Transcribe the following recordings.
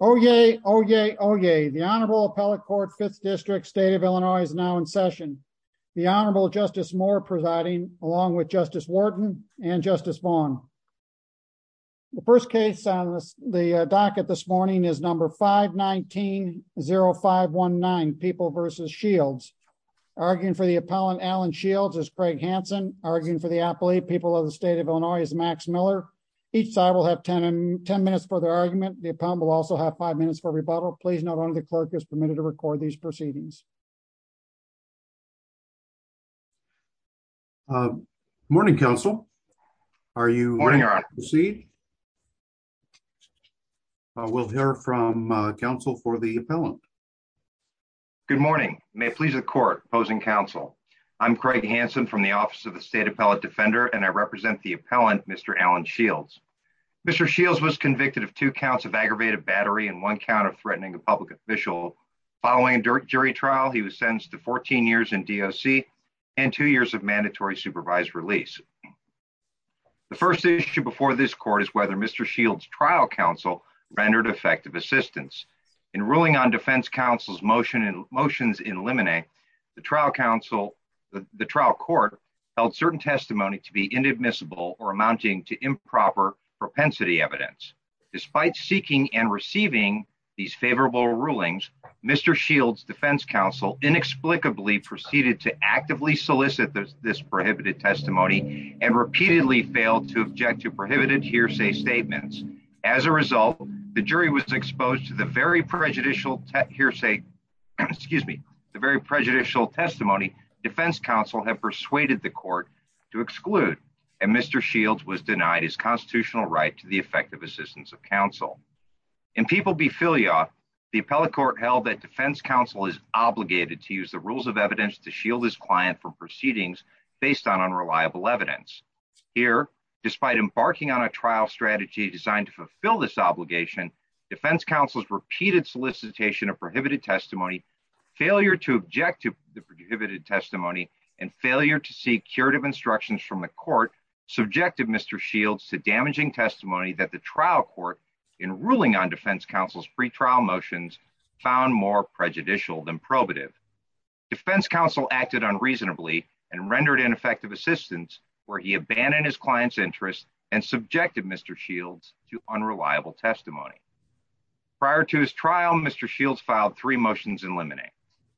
Oh, yay. Oh, yay. Oh, yay. The Honorable Appellate Court Fifth District State of Illinois is now in session. The Honorable Justice Moore presiding, along with Justice Wharton and Justice Vaughn. The first case on the docket this morning is number 519-0519, People v. Shields. Arguing for the appellant Alan Shields is Craig Hanson. Arguing for the appellate People of the State of Illinois is Max Miller. Each side will have 10 minutes for their argument. The appellant will also have five minutes for rebuttal. Please note only the clerk is permitted to record these proceedings. Morning, counsel. Are you ready to proceed? We'll hear from counsel for the appellant. Good morning. May it please the court opposing counsel. I'm Craig Hanson from the Office of the State Appellate Defender and I represent the appellant Mr. Alan Shields. Mr. Shields was convicted of two counts of aggravated battery and one count of threatening a public official. Following a jury trial, he was sentenced to 14 years in DOC and two years of mandatory supervised release. The first issue before this court is whether Mr. Shields' trial counsel rendered effective assistance. In ruling on defense counsel's motions in limine, the trial court held certain testimony to be inadmissible or amounting to negligence. Despite seeking and receiving these favorable rulings, Mr. Shields' defense counsel inexplicably proceeded to actively solicit this prohibited testimony and repeatedly failed to object to prohibited hearsay statements. As a result, the jury was exposed to the very prejudicial hearsay, excuse me, the very prejudicial testimony defense counsel have persuaded the court to exclude. And Mr. Shields was denied his constitutional right to the effective assistance of counsel. In people befilia, the appellate court held that defense counsel is obligated to use the rules of evidence to shield his client from proceedings based on unreliable evidence. Here, despite embarking on a trial strategy designed to fulfill this obligation, defense counsel's repeated solicitation of prohibited testimony, failure to object to the prohibited testimony, and failure to seek the court's instructions from the court, subjected Mr. Shields to damaging testimony that the trial court in ruling on defense counsel's pre-trial motions found more prejudicial than probative. Defense counsel acted unreasonably and rendered ineffective assistance where he abandoned his client's interest and subjected Mr. Shields to unreliable testimony. Prior to his trial, Mr. Shields filed three motions in limine.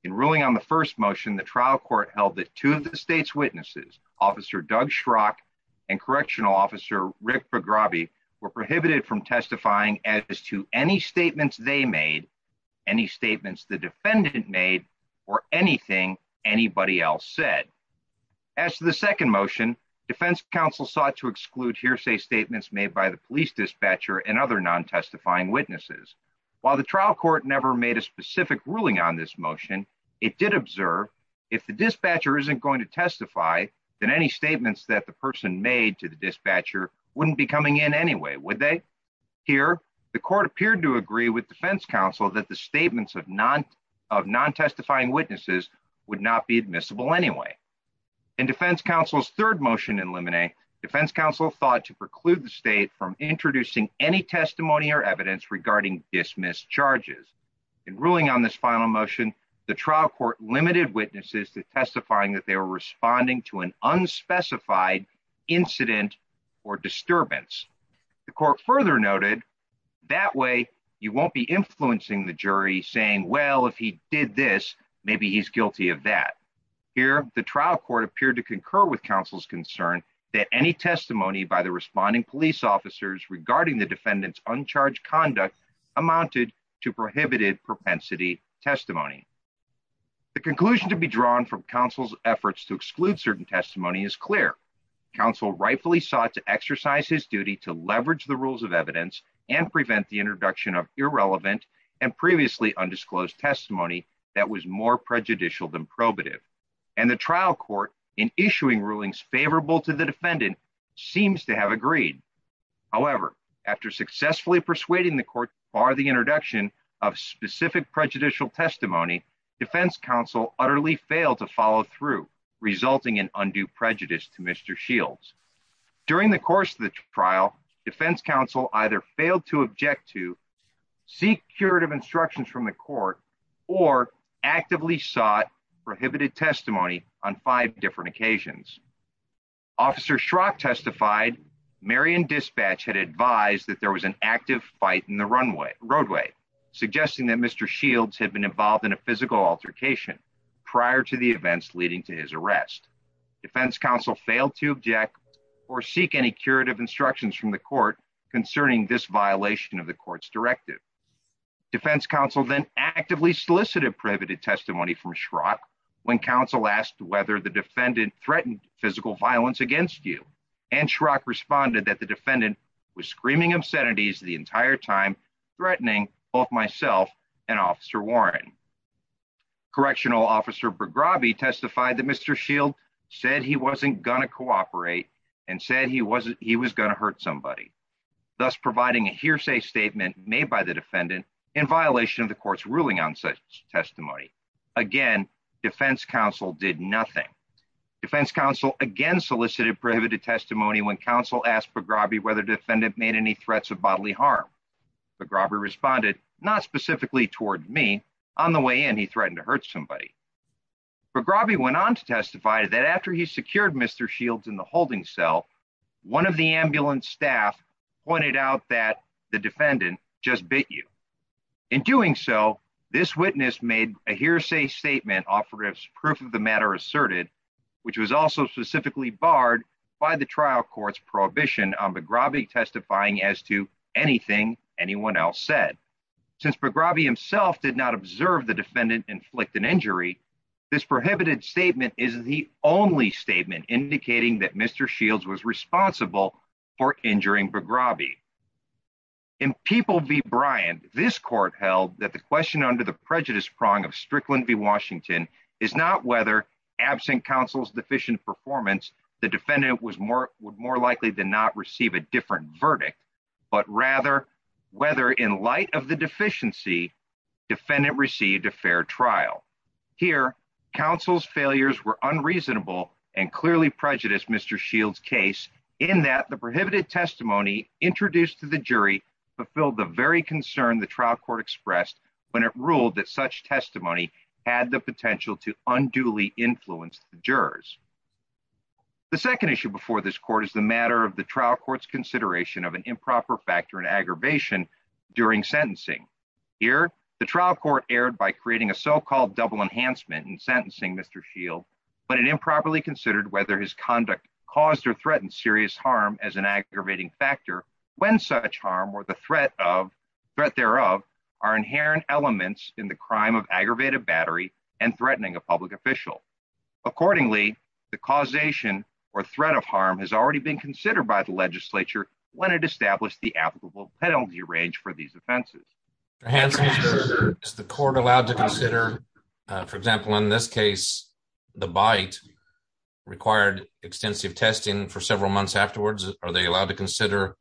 In those motions, Officer Doug Schrock and Correctional Officer Rick Bagrabi were prohibited from testifying as to any statements they made, any statements the defendant made, or anything anybody else said. As to the second motion, defense counsel sought to exclude hearsay statements made by the police dispatcher and other non-testifying witnesses. While the trial court never made a specific ruling on this motion, it did observe if the dispatcher isn't going to testify, then any statements that the person made to the dispatcher wouldn't be coming in anyway, would they? Here, the court appeared to agree with defense counsel that the statements of non-testifying witnesses would not be admissible anyway. In defense counsel's third motion in limine, defense counsel thought to preclude the state from introducing any testimony or evidence regarding dismissed charges. In ruling on this final motion, the trial court limited witnesses to testifying that they were responding to an unspecified incident or disturbance. The court further noted, that way you won't be influencing the jury, saying, well, if he did this, maybe he's guilty of that. Here, the trial court appeared to concur with counsel's concern that any testimony by the responding police officers regarding the defendant's uncharged conduct amounted to prohibited propensity testimony. The conclusion to be drawn from counsel's efforts to exclude certain testimony is clear. Counsel rightfully sought to exercise his duty to leverage the rules of evidence and prevent the introduction of irrelevant and previously undisclosed testimony that was more prejudicial than probative. And the trial court, in issuing rulings favorable to the defendant, seems to have agreed. However, after successfully persuading the court bar the introduction of specific prejudicial testimony, defense counsel utterly failed to follow through, resulting in undue prejudice to Mr. Shields. During the course of the trial, defense counsel either failed to object to, seek curative instructions from the court, or actively sought prohibited testimony on five different occasions. Officer Schrock testified, Marion Dispatch had advised that there was an active fight in the runway, roadway, suggesting that Mr. Shields had been involved in a physical altercation prior to the events leading to his arrest. Defense counsel failed to object or seek any curative instructions from the court concerning this violation of the court's directive. Defense counsel then actively solicited prohibited testimony from Schrock when counsel asked whether the defendant threatened physical violence against you. And Schrock responded that the defendant was screaming obscenities the entire time, threatening both myself and Officer Warren. Correctional Officer Bograbi testified that Mr. Shields said he wasn't going to cooperate and said he was going to hurt somebody, thus providing a hearsay statement made by the defendant in violation of the court's solicited prohibited testimony when counsel asked Bograbi whether the defendant made any threats of bodily harm. Bograbi responded, not specifically toward me. On the way in, he threatened to hurt somebody. Bograbi went on to testify that after he secured Mr. Shields in the holding cell, one of the ambulance staff pointed out that the defendant just bit you. In doing so, this witness made a hearsay statement offering proof of the matter asserted, which was also specifically barred by the trial court's prohibition on Bograbi testifying as to anything anyone else said. Since Bograbi himself did not observe the defendant inflict an injury, this prohibited statement is the only statement indicating that Mr. Shields was responsible for injuring Bograbi. In People v. Bryant, this court held that the question under the prejudice performance, the defendant was more likely to not receive a different verdict, but rather whether in light of the deficiency, defendant received a fair trial. Here, counsel's failures were unreasonable and clearly prejudiced Mr. Shields' case in that the prohibited testimony introduced to the jury fulfilled the very concern the trial court expressed when it ruled that such The second issue before this court is the matter of the trial court's consideration of an improper factor in aggravation during sentencing. Here, the trial court erred by creating a so-called double enhancement in sentencing Mr. Shields, but it improperly considered whether his conduct caused or threatened serious harm as an aggravating factor when such harm or the threat thereof are inherent elements in the crime of aggravated battery and threatening a public official. Accordingly, the causation or threat of harm has already been considered by the legislature when it established the applicable penalty range for these offenses. Is the court allowed to consider, for example, in this case, the bite required extensive testing for several months afterwards? Are they allowed to consider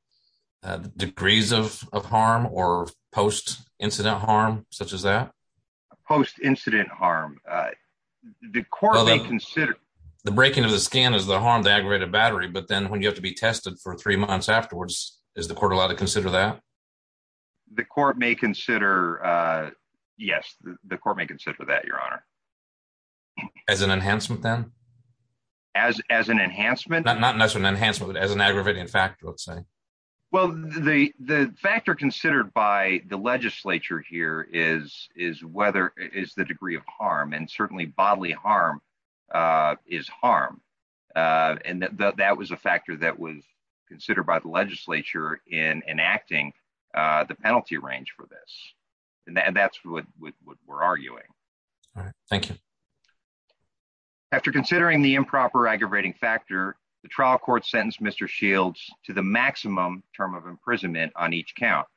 degrees of harm or post-incident harm such as that? Post-incident harm. The court may consider the breaking of the scan as the harm to aggravated battery, but then when you have to be tested for three months afterwards, is the court allowed to consider that? The court may consider, yes, the court may consider that, your honor. As an enhancement then? As an enhancement? Not necessarily an enhancement, as an aggravating factor, let's say. Well, the factor considered by the legislature here is the degree of harm and certainly bodily harm is harm. And that was a factor that was considered by the legislature in enacting the penalty range for this. And that's what we're arguing. All right. Thank you. After considering the improper aggravating factor, the trial court Mr. Shields to the maximum term of imprisonment on each count.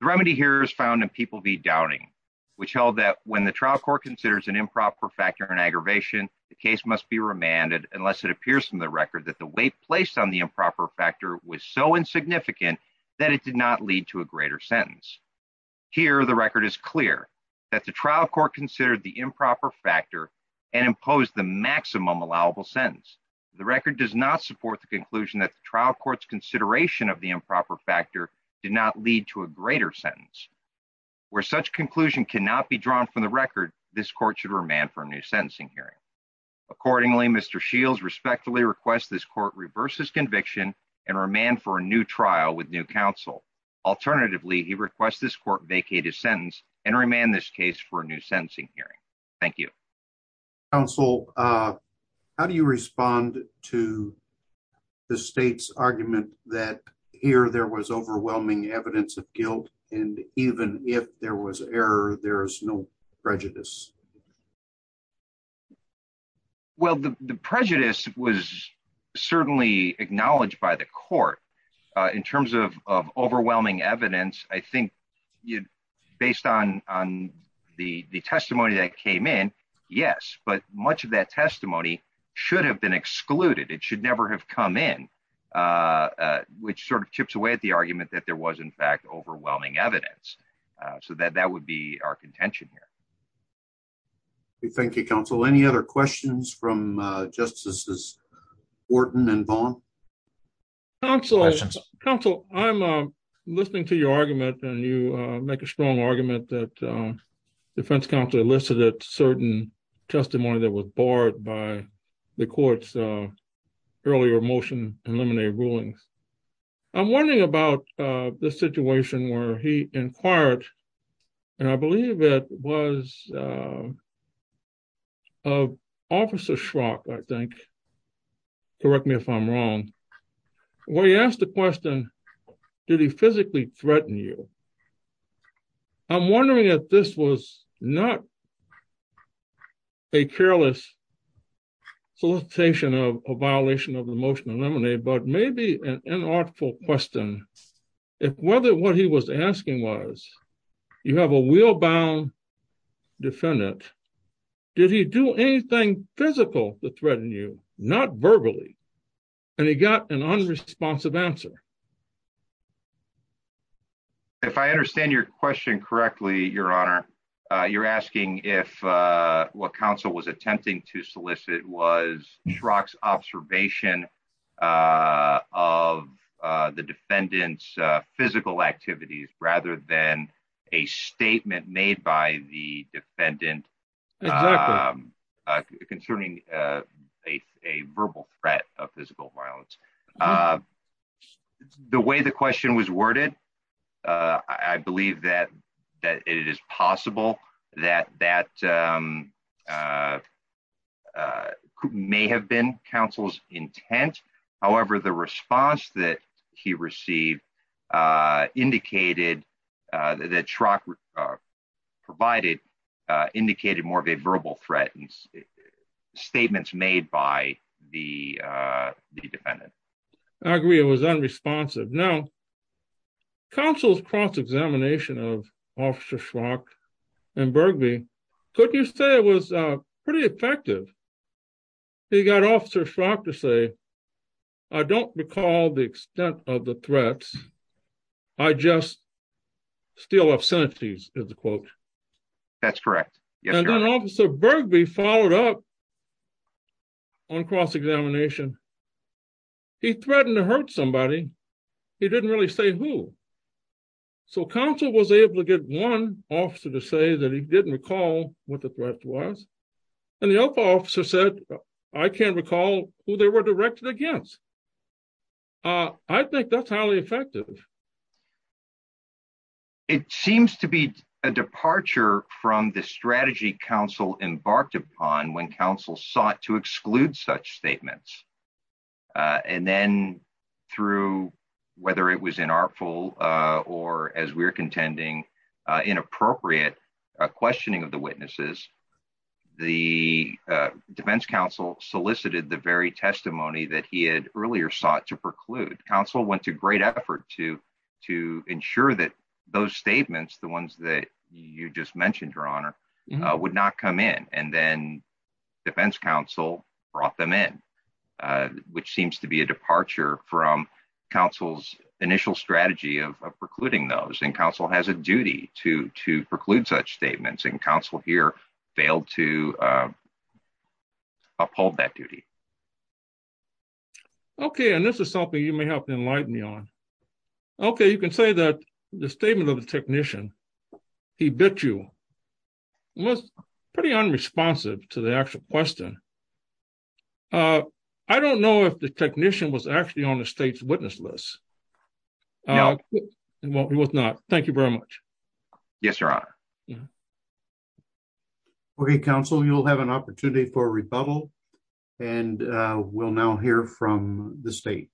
The remedy here is found in People v. Doubting, which held that when the trial court considers an improper factor in aggravation, the case must be remanded unless it appears from the record that the weight placed on the improper factor was so insignificant that it did not lead to a greater sentence. Here, the record is clear that the trial court considered the improper factor and imposed the maximum allowable sentence. The record does not support the conclusion that the trial court's consideration of the improper factor did not lead to a greater sentence. Where such conclusion cannot be drawn from the record, this court should remand for a new sentencing hearing. Accordingly, Mr. Shields respectfully requests this court reverse his conviction and remand for a new trial with new counsel. Alternatively, he requests this court vacate his sentence and remand this case for a new sentence. Mr. Shields, you have not responded to the state's argument that here there was overwhelming evidence of guilt, and even if there was error there's no prejudice. Well, the prejudice was certainly acknowledged by the court in terms of overwhelming evidence. I it should never have come in, which sort of chips away at the argument that there was in fact overwhelming evidence. So that would be our contention here. Thank you, counsel. Any other questions from Justices Wharton and Vaughn? Counsel, I'm listening to your argument, and you make a strong argument that defense counsel elicited certain testimony that was barred by the court's earlier motion to eliminate rulings. I'm wondering about the situation where he inquired, and I believe it was of Officer Schrock, I think. Correct me if I'm wrong. When he asked the question, did he physically threaten you? I'm wondering if this was not a careless solicitation of a violation of the motion to eliminate, but maybe an inartful question if whether what he was asking was, you have a wheel-bound defendant, did he do anything physical to threaten you, not verbally? And he got an unresponsive answer. If I understand your question correctly, Your Honor, you're asking if what counsel was attempting to solicit was Schrock's observation of the defendant's physical activities rather than a statement made by the defendant concerning a verbal threat of physical violence. The way the question was worded, I believe that it is possible that that may have been counsel's intent. However, the response that he received indicated that Schrock provided indicated more of a verbal threat statements made by the defendant. I agree, it was unresponsive. Now, counsel's cross-examination of Officer Schrock and he got Officer Schrock to say, I don't recall the extent of the threats, I just still have sentences, is the quote. That's correct. And then Officer Birgby followed up on cross-examination, he threatened to hurt somebody, he didn't really say who. So, counsel was able to get one officer to say that he didn't recall what the threat was, and the other officer said, I can't recall who they were directed against. I think that's highly effective. It seems to be a departure from the strategy counsel embarked upon when counsel sought to exclude such statements. And then through, whether it was inartful, or as we're contending, inappropriate questioning of the witnesses, the defense counsel solicited the very testimony that he had earlier sought to preclude. Counsel went to great effort to ensure that those statements, the ones that you just mentioned, Your Honor, would not come in. And then defense counsel brought them in, which seems to be a departure from counsel's initial strategy of precluding those. And counsel has a duty to preclude such statements, and counsel here failed to uphold that duty. Okay, and this is something you may have to enlighten me on. Okay, you can say that the statement of the technician, he bit you, was pretty unresponsive to the actual question. I don't know if the technician was actually on the state's witness list. No, he was not. Thank you very much. Yes, Your Honor. Okay, counsel, you'll have an opportunity for a rebuttal, and we'll now hear from the state.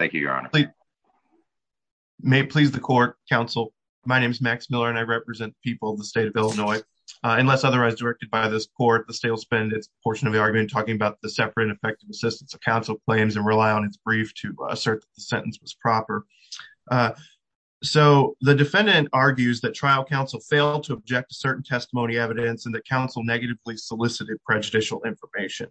Thank you, Your Honor. May it please the court, counsel, my name is Max Miller, and I represent people of the state of Illinois. Unless otherwise directed by this court, the state will spend its portion of the argument talking about the separate and effective assistance of counsel claims and its brief to assert that the sentence was proper. So the defendant argues that trial counsel failed to object to certain testimony evidence and that counsel negatively solicited prejudicial information.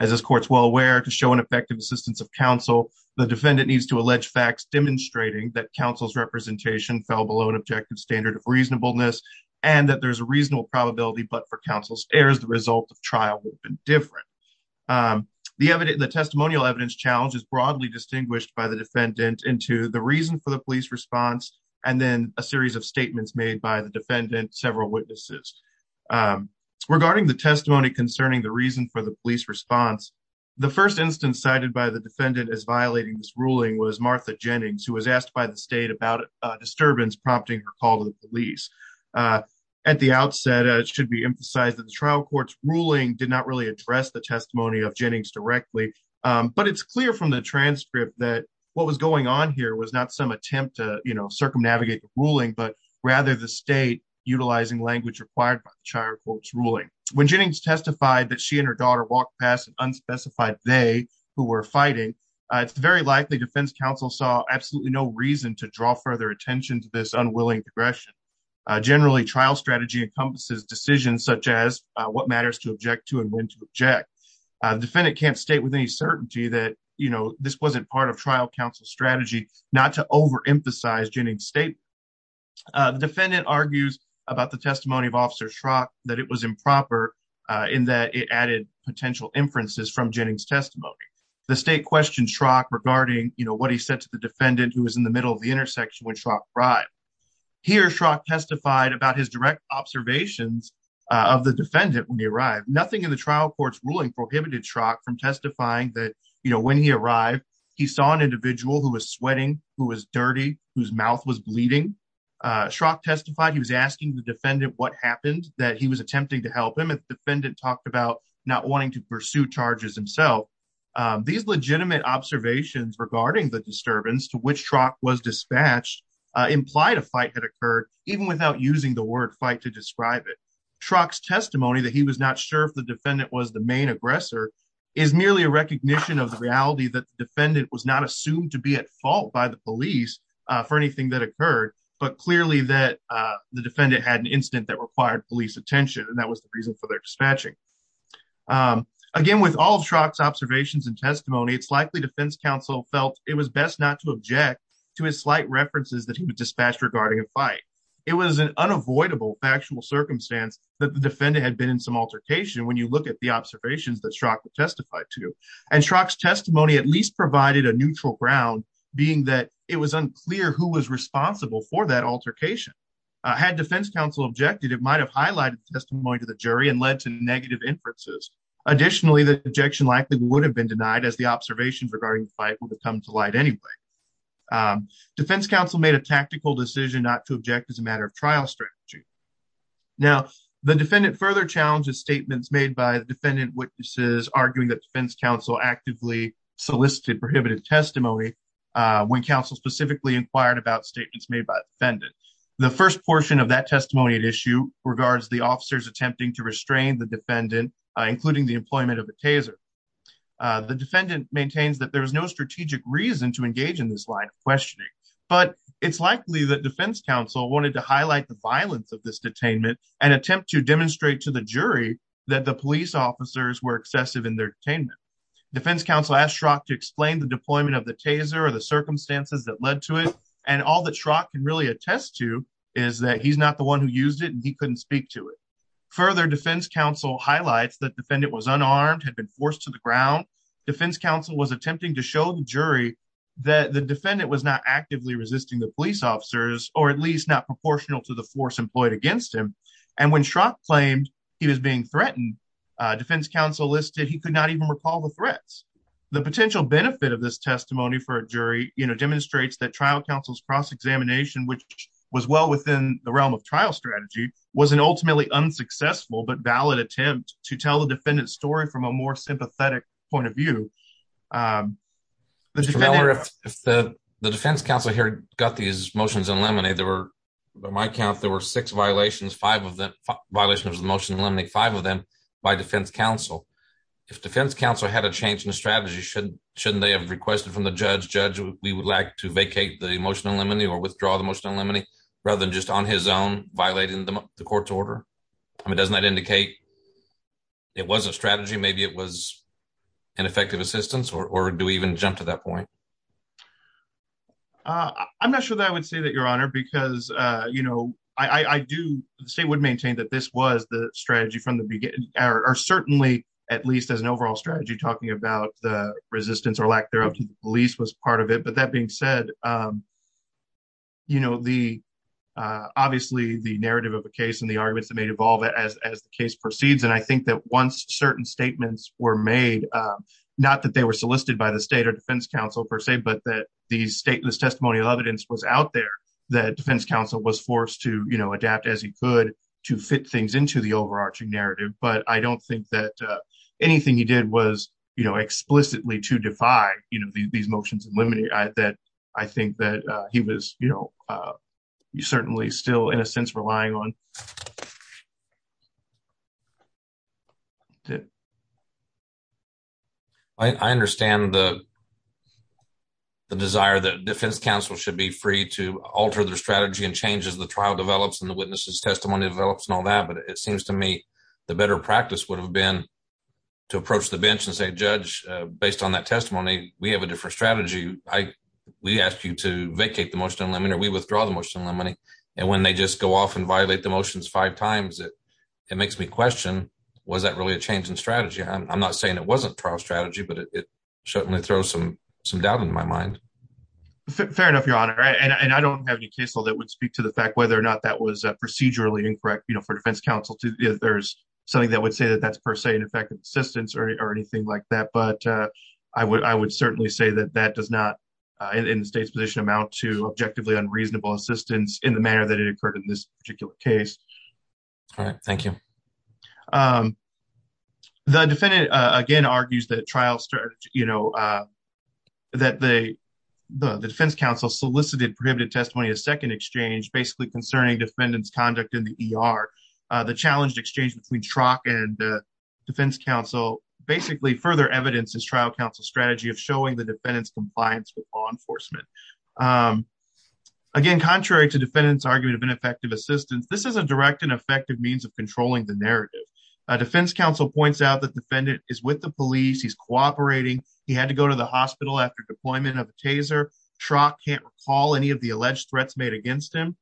As this court's well aware, to show an effective assistance of counsel, the defendant needs to allege facts demonstrating that counsel's representation fell below an objective standard of reasonableness and that there's a reasonable probability but for counsel's result of trial would have been different. The testimonial evidence challenge is broadly distinguished by the defendant into the reason for the police response and then a series of statements made by the defendant, several witnesses. Regarding the testimony concerning the reason for the police response, the first instance cited by the defendant as violating this ruling was Martha Jennings, who was asked by the state about a disturbance prompting her call to the police. At the outset, it should be emphasized that the trial court's ruling did not really address the testimony of Jennings directly, but it's clear from the transcript that what was going on here was not some attempt to, you know, circumnavigate the ruling, but rather the state utilizing language required by the trial court's ruling. When Jennings testified that she and her daughter walked past an unspecified they who were fighting, it's very likely defense counsel saw absolutely no reason to draw further attention to this unwilling progression. Generally, trial strategy encompasses decisions such as what matters to object to and when to object. The defendant can't state with any certainty that, you know, this wasn't part of trial counsel's strategy not to overemphasize Jennings' statement. The defendant argues about the testimony of Officer Schrock that it was improper in that it added potential inferences from Jennings' testimony. The state questioned Schrock regarding, you know, what he said to the defendant who was in the middle of the intersection when Schrock arrived. Here, Schrock testified about his direct observations of the defendant when he arrived. Nothing in the trial court's ruling prohibited Schrock from testifying that, you know, when he arrived he saw an individual who was sweating, who was dirty, whose mouth was bleeding. Schrock testified he was asking the defendant what happened, that he was attempting to help him, and the defendant talked about not wanting to pursue charges himself. These legitimate observations regarding the disturbance to which Schrock was dispatched implied a fight had occurred even without using the word fight to describe it. Schrock's testimony that he was not sure if the defendant was the main aggressor is merely a recognition of the reality that the defendant was not assumed to be at fault by the police for anything that occurred, but clearly that the defendant had an incident that required police attention, and that was the reason for their dispatching. Again, with all of Schrock's observations and testimony, it's likely defense counsel felt it was best not to object to his slight references that he would dispatch regarding a fight. It was an unavoidable factual circumstance that the defendant had been in some altercation when you look at the observations that Schrock testified to, and Schrock's testimony at least provided a neutral ground, being that it was unclear who was responsible for that altercation. Had defense counsel objected, it might have highlighted testimony to the jury and led to negative inferences. Additionally, the objection likely would have been denied as the observations regarding the fight would have come to light anyway. Defense counsel made a tactical decision not to object as a matter of trial strategy. Now, the defendant further challenges statements made by defendant witnesses arguing that defense counsel actively solicited prohibited testimony when counsel specifically inquired about statements made by the defendant. The first portion of that testimony at issue regards the officers attempting to restrain the defendant, including the employment of the taser. The defendant maintains that there is no strategic reason to engage in this line of questioning, but it's likely that defense counsel wanted to highlight the violence of this detainment and attempt to demonstrate to the jury that the police officers were excessive in their detainment. Defense counsel asked Schrock to explain the circumstances that led to it, and all that Schrock can really attest to is that he's not the one who used it and he couldn't speak to it. Further, defense counsel highlights that defendant was unarmed, had been forced to the ground. Defense counsel was attempting to show the jury that the defendant was not actively resisting the police officers, or at least not proportional to the force employed against him. And when Schrock claimed he was being threatened, defense counsel listed he could not even recall the threats. The potential benefit of this testimony for a jury, you know, demonstrates that trial counsel's cross-examination, which was well within the realm of trial strategy, was an ultimately unsuccessful but valid attempt to tell the defendant's story from a more sympathetic point of view. Mr. Miller, if the defense counsel here got these motions in limine, there were, by my count, there were six violations, five of them, violations of the motion in limine, five of them, by defense counsel. If defense counsel had a change in strategy, shouldn't they have requested from the judge, judge, we would like to vacate the motion in limine or withdraw the motion in limine, rather than just on his own violating the court's order? I mean, doesn't that indicate it was a strategy, maybe it was ineffective assistance, or do we even jump to that point? I'm not sure that I would say that, your honor, because, you know, I do, the state would maintain that this was the strategy from the beginning, or certainly at least as an overall strategy, talking about the resistance or lack thereof to the police was part of it, but that being said, you know, the, obviously the narrative of the case and the arguments that may evolve as the case proceeds, and I think that once certain statements were made, not that they were solicited by the state or defense counsel per se, but that the stateless testimonial evidence was out there that defense counsel was forced to, you know, adapt as he could to fit things into the overarching narrative, but I don't think that anything he did was, you know, explicitly to defy, you know, these motions in limine, that I think that he was, you know, certainly still in a sense relying on. I understand the desire that defense counsel should be free to alter their strategy and change as the trial develops and the witness's testimony develops and all that, but it seems to me the better practice would have been to approach the bench and say, judge, based on that testimony, we have a different strategy. We ask you to vacate the motion in limine, or we withdraw the motion in limine, and when they just go off and violate the motions five times, it makes me question, was that really a change in strategy? I'm not saying it wasn't trial strategy, but it certainly throws some doubt into my mind. Fair enough, your honor, and I don't have any case law that would speak to the fact whether or not that was procedurally incorrect, you know, for defense counsel to, if there's something that would say that that's per se ineffective assistance or anything like that, but I would certainly say that that does not, in the state's position, amount to objectively unreasonable assistance in the manner that it occurred in this particular case. All right, thank you. The defendant, again, argues that trial strategy, you know, that the defense counsel solicited prohibited testimony as second exchange, basically concerning defendant's conduct in the ER. The challenged exchange between TROC and the defense counsel basically further evidences trial counsel's strategy of showing the defendant's compliance with law enforcement. Again, contrary to defendant's argument of ineffective assistance, this is a direct and effective means of controlling the narrative. Defense counsel points out that defendant is with the police, he's cooperating, he had to go to the hospital after deployment of a taser, TROC can't recall any of the alleged threats made against him,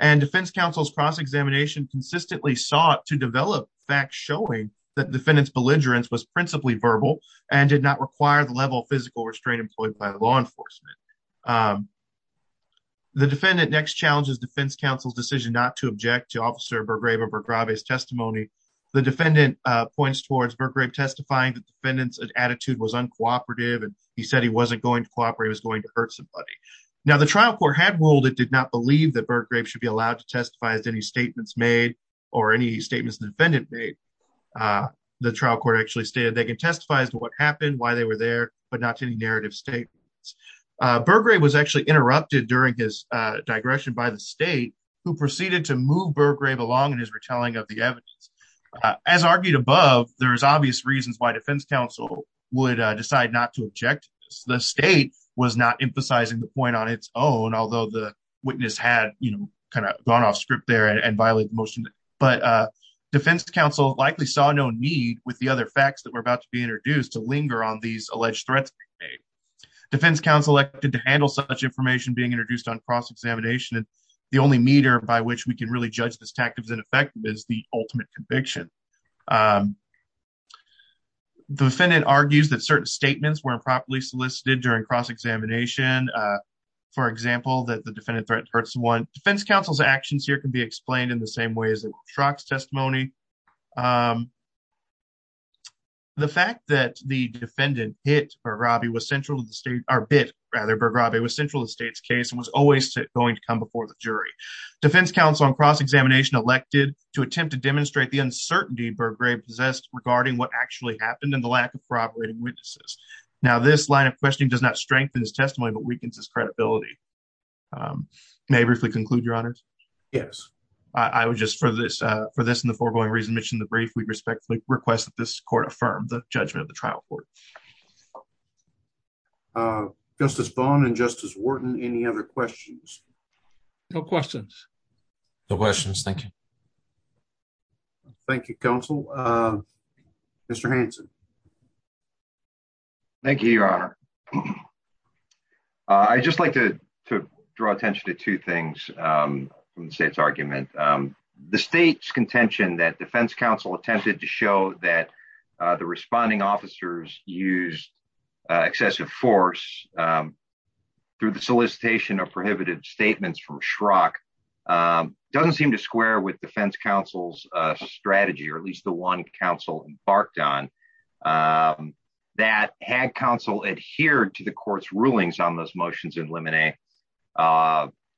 and defense counsel's cross-examination consistently sought to develop facts showing that defendant's belligerence was principally verbal and did not require the level of physical restraint employed by the law enforcement. The defendant next challenges defense counsel's decision not to object to Officer Bergrave or Bergrave's testimony. The defendant points towards Bergrave testifying that defendant's attitude was uncooperative and he said he wasn't going to cooperate, he was going to hurt somebody. Now, the trial court had ruled it did not believe that Bergrave should be allowed to testify as any statements made or any statements the defendant made. The trial court actually stated they can testify as to what happened, why they were there, but not to any narrative statements. Bergrave was actually interrupted during his digression by the state who proceeded to move Bergrave along in his retelling of the evidence. As argued above, there's obvious reasons why defense counsel would decide not to object. The state was not emphasizing the point on its own, although the witness had, you know, kind of gone off script there and violated the motion, but defense counsel likely saw no need with the facts that were about to be introduced to linger on these alleged threats being made. Defense counsel acted to handle such information being introduced on cross-examination and the only meter by which we can really judge this tactic as ineffective is the ultimate conviction. The defendant argues that certain statements were improperly solicited during cross-examination, for example, that the defendant threatened to hurt someone. Defense counsel's actions here can be explained in the same way as in Shrock's testimony. The fact that the defendant hit Bergrave was central to the state's case and was always going to come before the jury. Defense counsel on cross-examination elected to attempt to demonstrate the uncertainty Bergrave possessed regarding what actually happened and the lack of corroborating witnesses. Now this line of questioning does not strengthen his testimony, but weakens his credibility. May I briefly conclude, your honors? Yes. I would just, for this and the foregoing reason mentioned in the brief, we respectfully request that this court affirm the judgment of the trial court. Justice Vaughn and Justice Wharton, any other questions? No questions. No questions, thank you. Thank you, counsel. Mr. Hanson. Thank you, your honor. I'd just like to draw attention to two things from the state's argument. The state's contention that defense counsel attempted to show that the responding officers used excessive force through the solicitation of prohibited statements from Shrock doesn't seem to square with defense counsel's strategy, or at least the one counsel embarked on. That had counsel adhered to the court's rulings on those motions in limine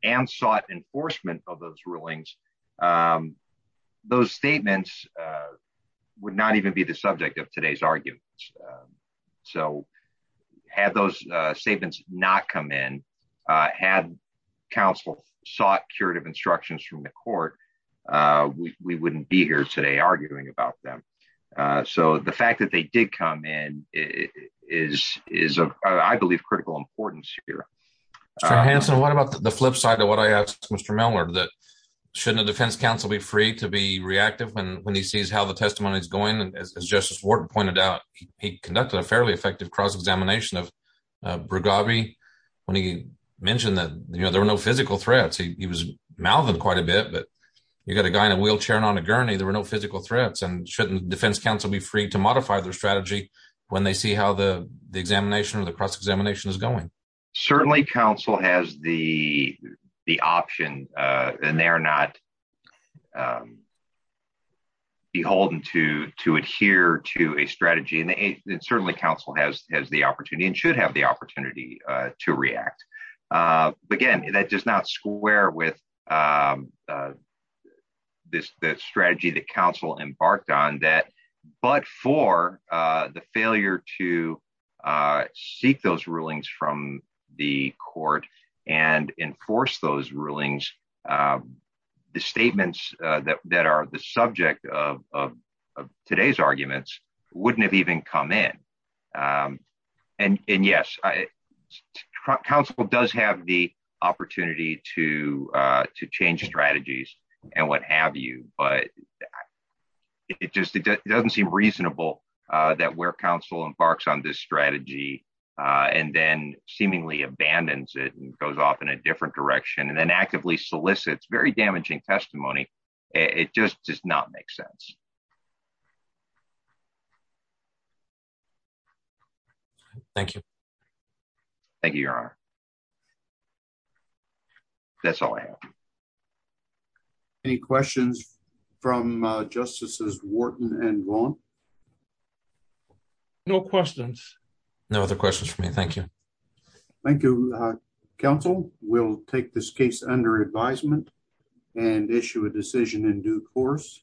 and sought enforcement of those rulings, those statements would not even be the subject of today's argument. So had those statements not come in, had counsel sought curative instructions from the court, we wouldn't be here today arguing about them. So the fact that they did come in is of, I believe, critical importance here. Mr. Hanson, what about the flip side of what I asked Mr. Mellor, that shouldn't the defense counsel be free to be reactive when he sees how the testimony is going? And as Justice Wharton pointed out, he conducted a fairly effective cross-examination of Brugabi when he mentioned that, you know, there were no physical threats. He was quite a bit, but you got a guy in a wheelchair and on a gurney, there were no physical threats. And shouldn't defense counsel be free to modify their strategy when they see how the examination or the cross-examination is going? Certainly counsel has the option and they are not beholden to adhere to a strategy. And certainly counsel has the opportunity and should have the the strategy that counsel embarked on that, but for the failure to seek those rulings from the court and enforce those rulings, the statements that are the subject of today's arguments wouldn't have even come in. And yes, counsel does have the opportunity to change strategies and what have you, but it just doesn't seem reasonable that where counsel embarks on this strategy and then seemingly abandons it and goes off in a different direction and then actively solicits very damaging testimony. It just does not make sense. Thank you. Thank you, your honor. That's all I have. Any questions from justices Wharton and Vaughn? No questions. No other questions for me. Thank you. Thank you counsel. We'll take this case under advisement and issue a decision in due course.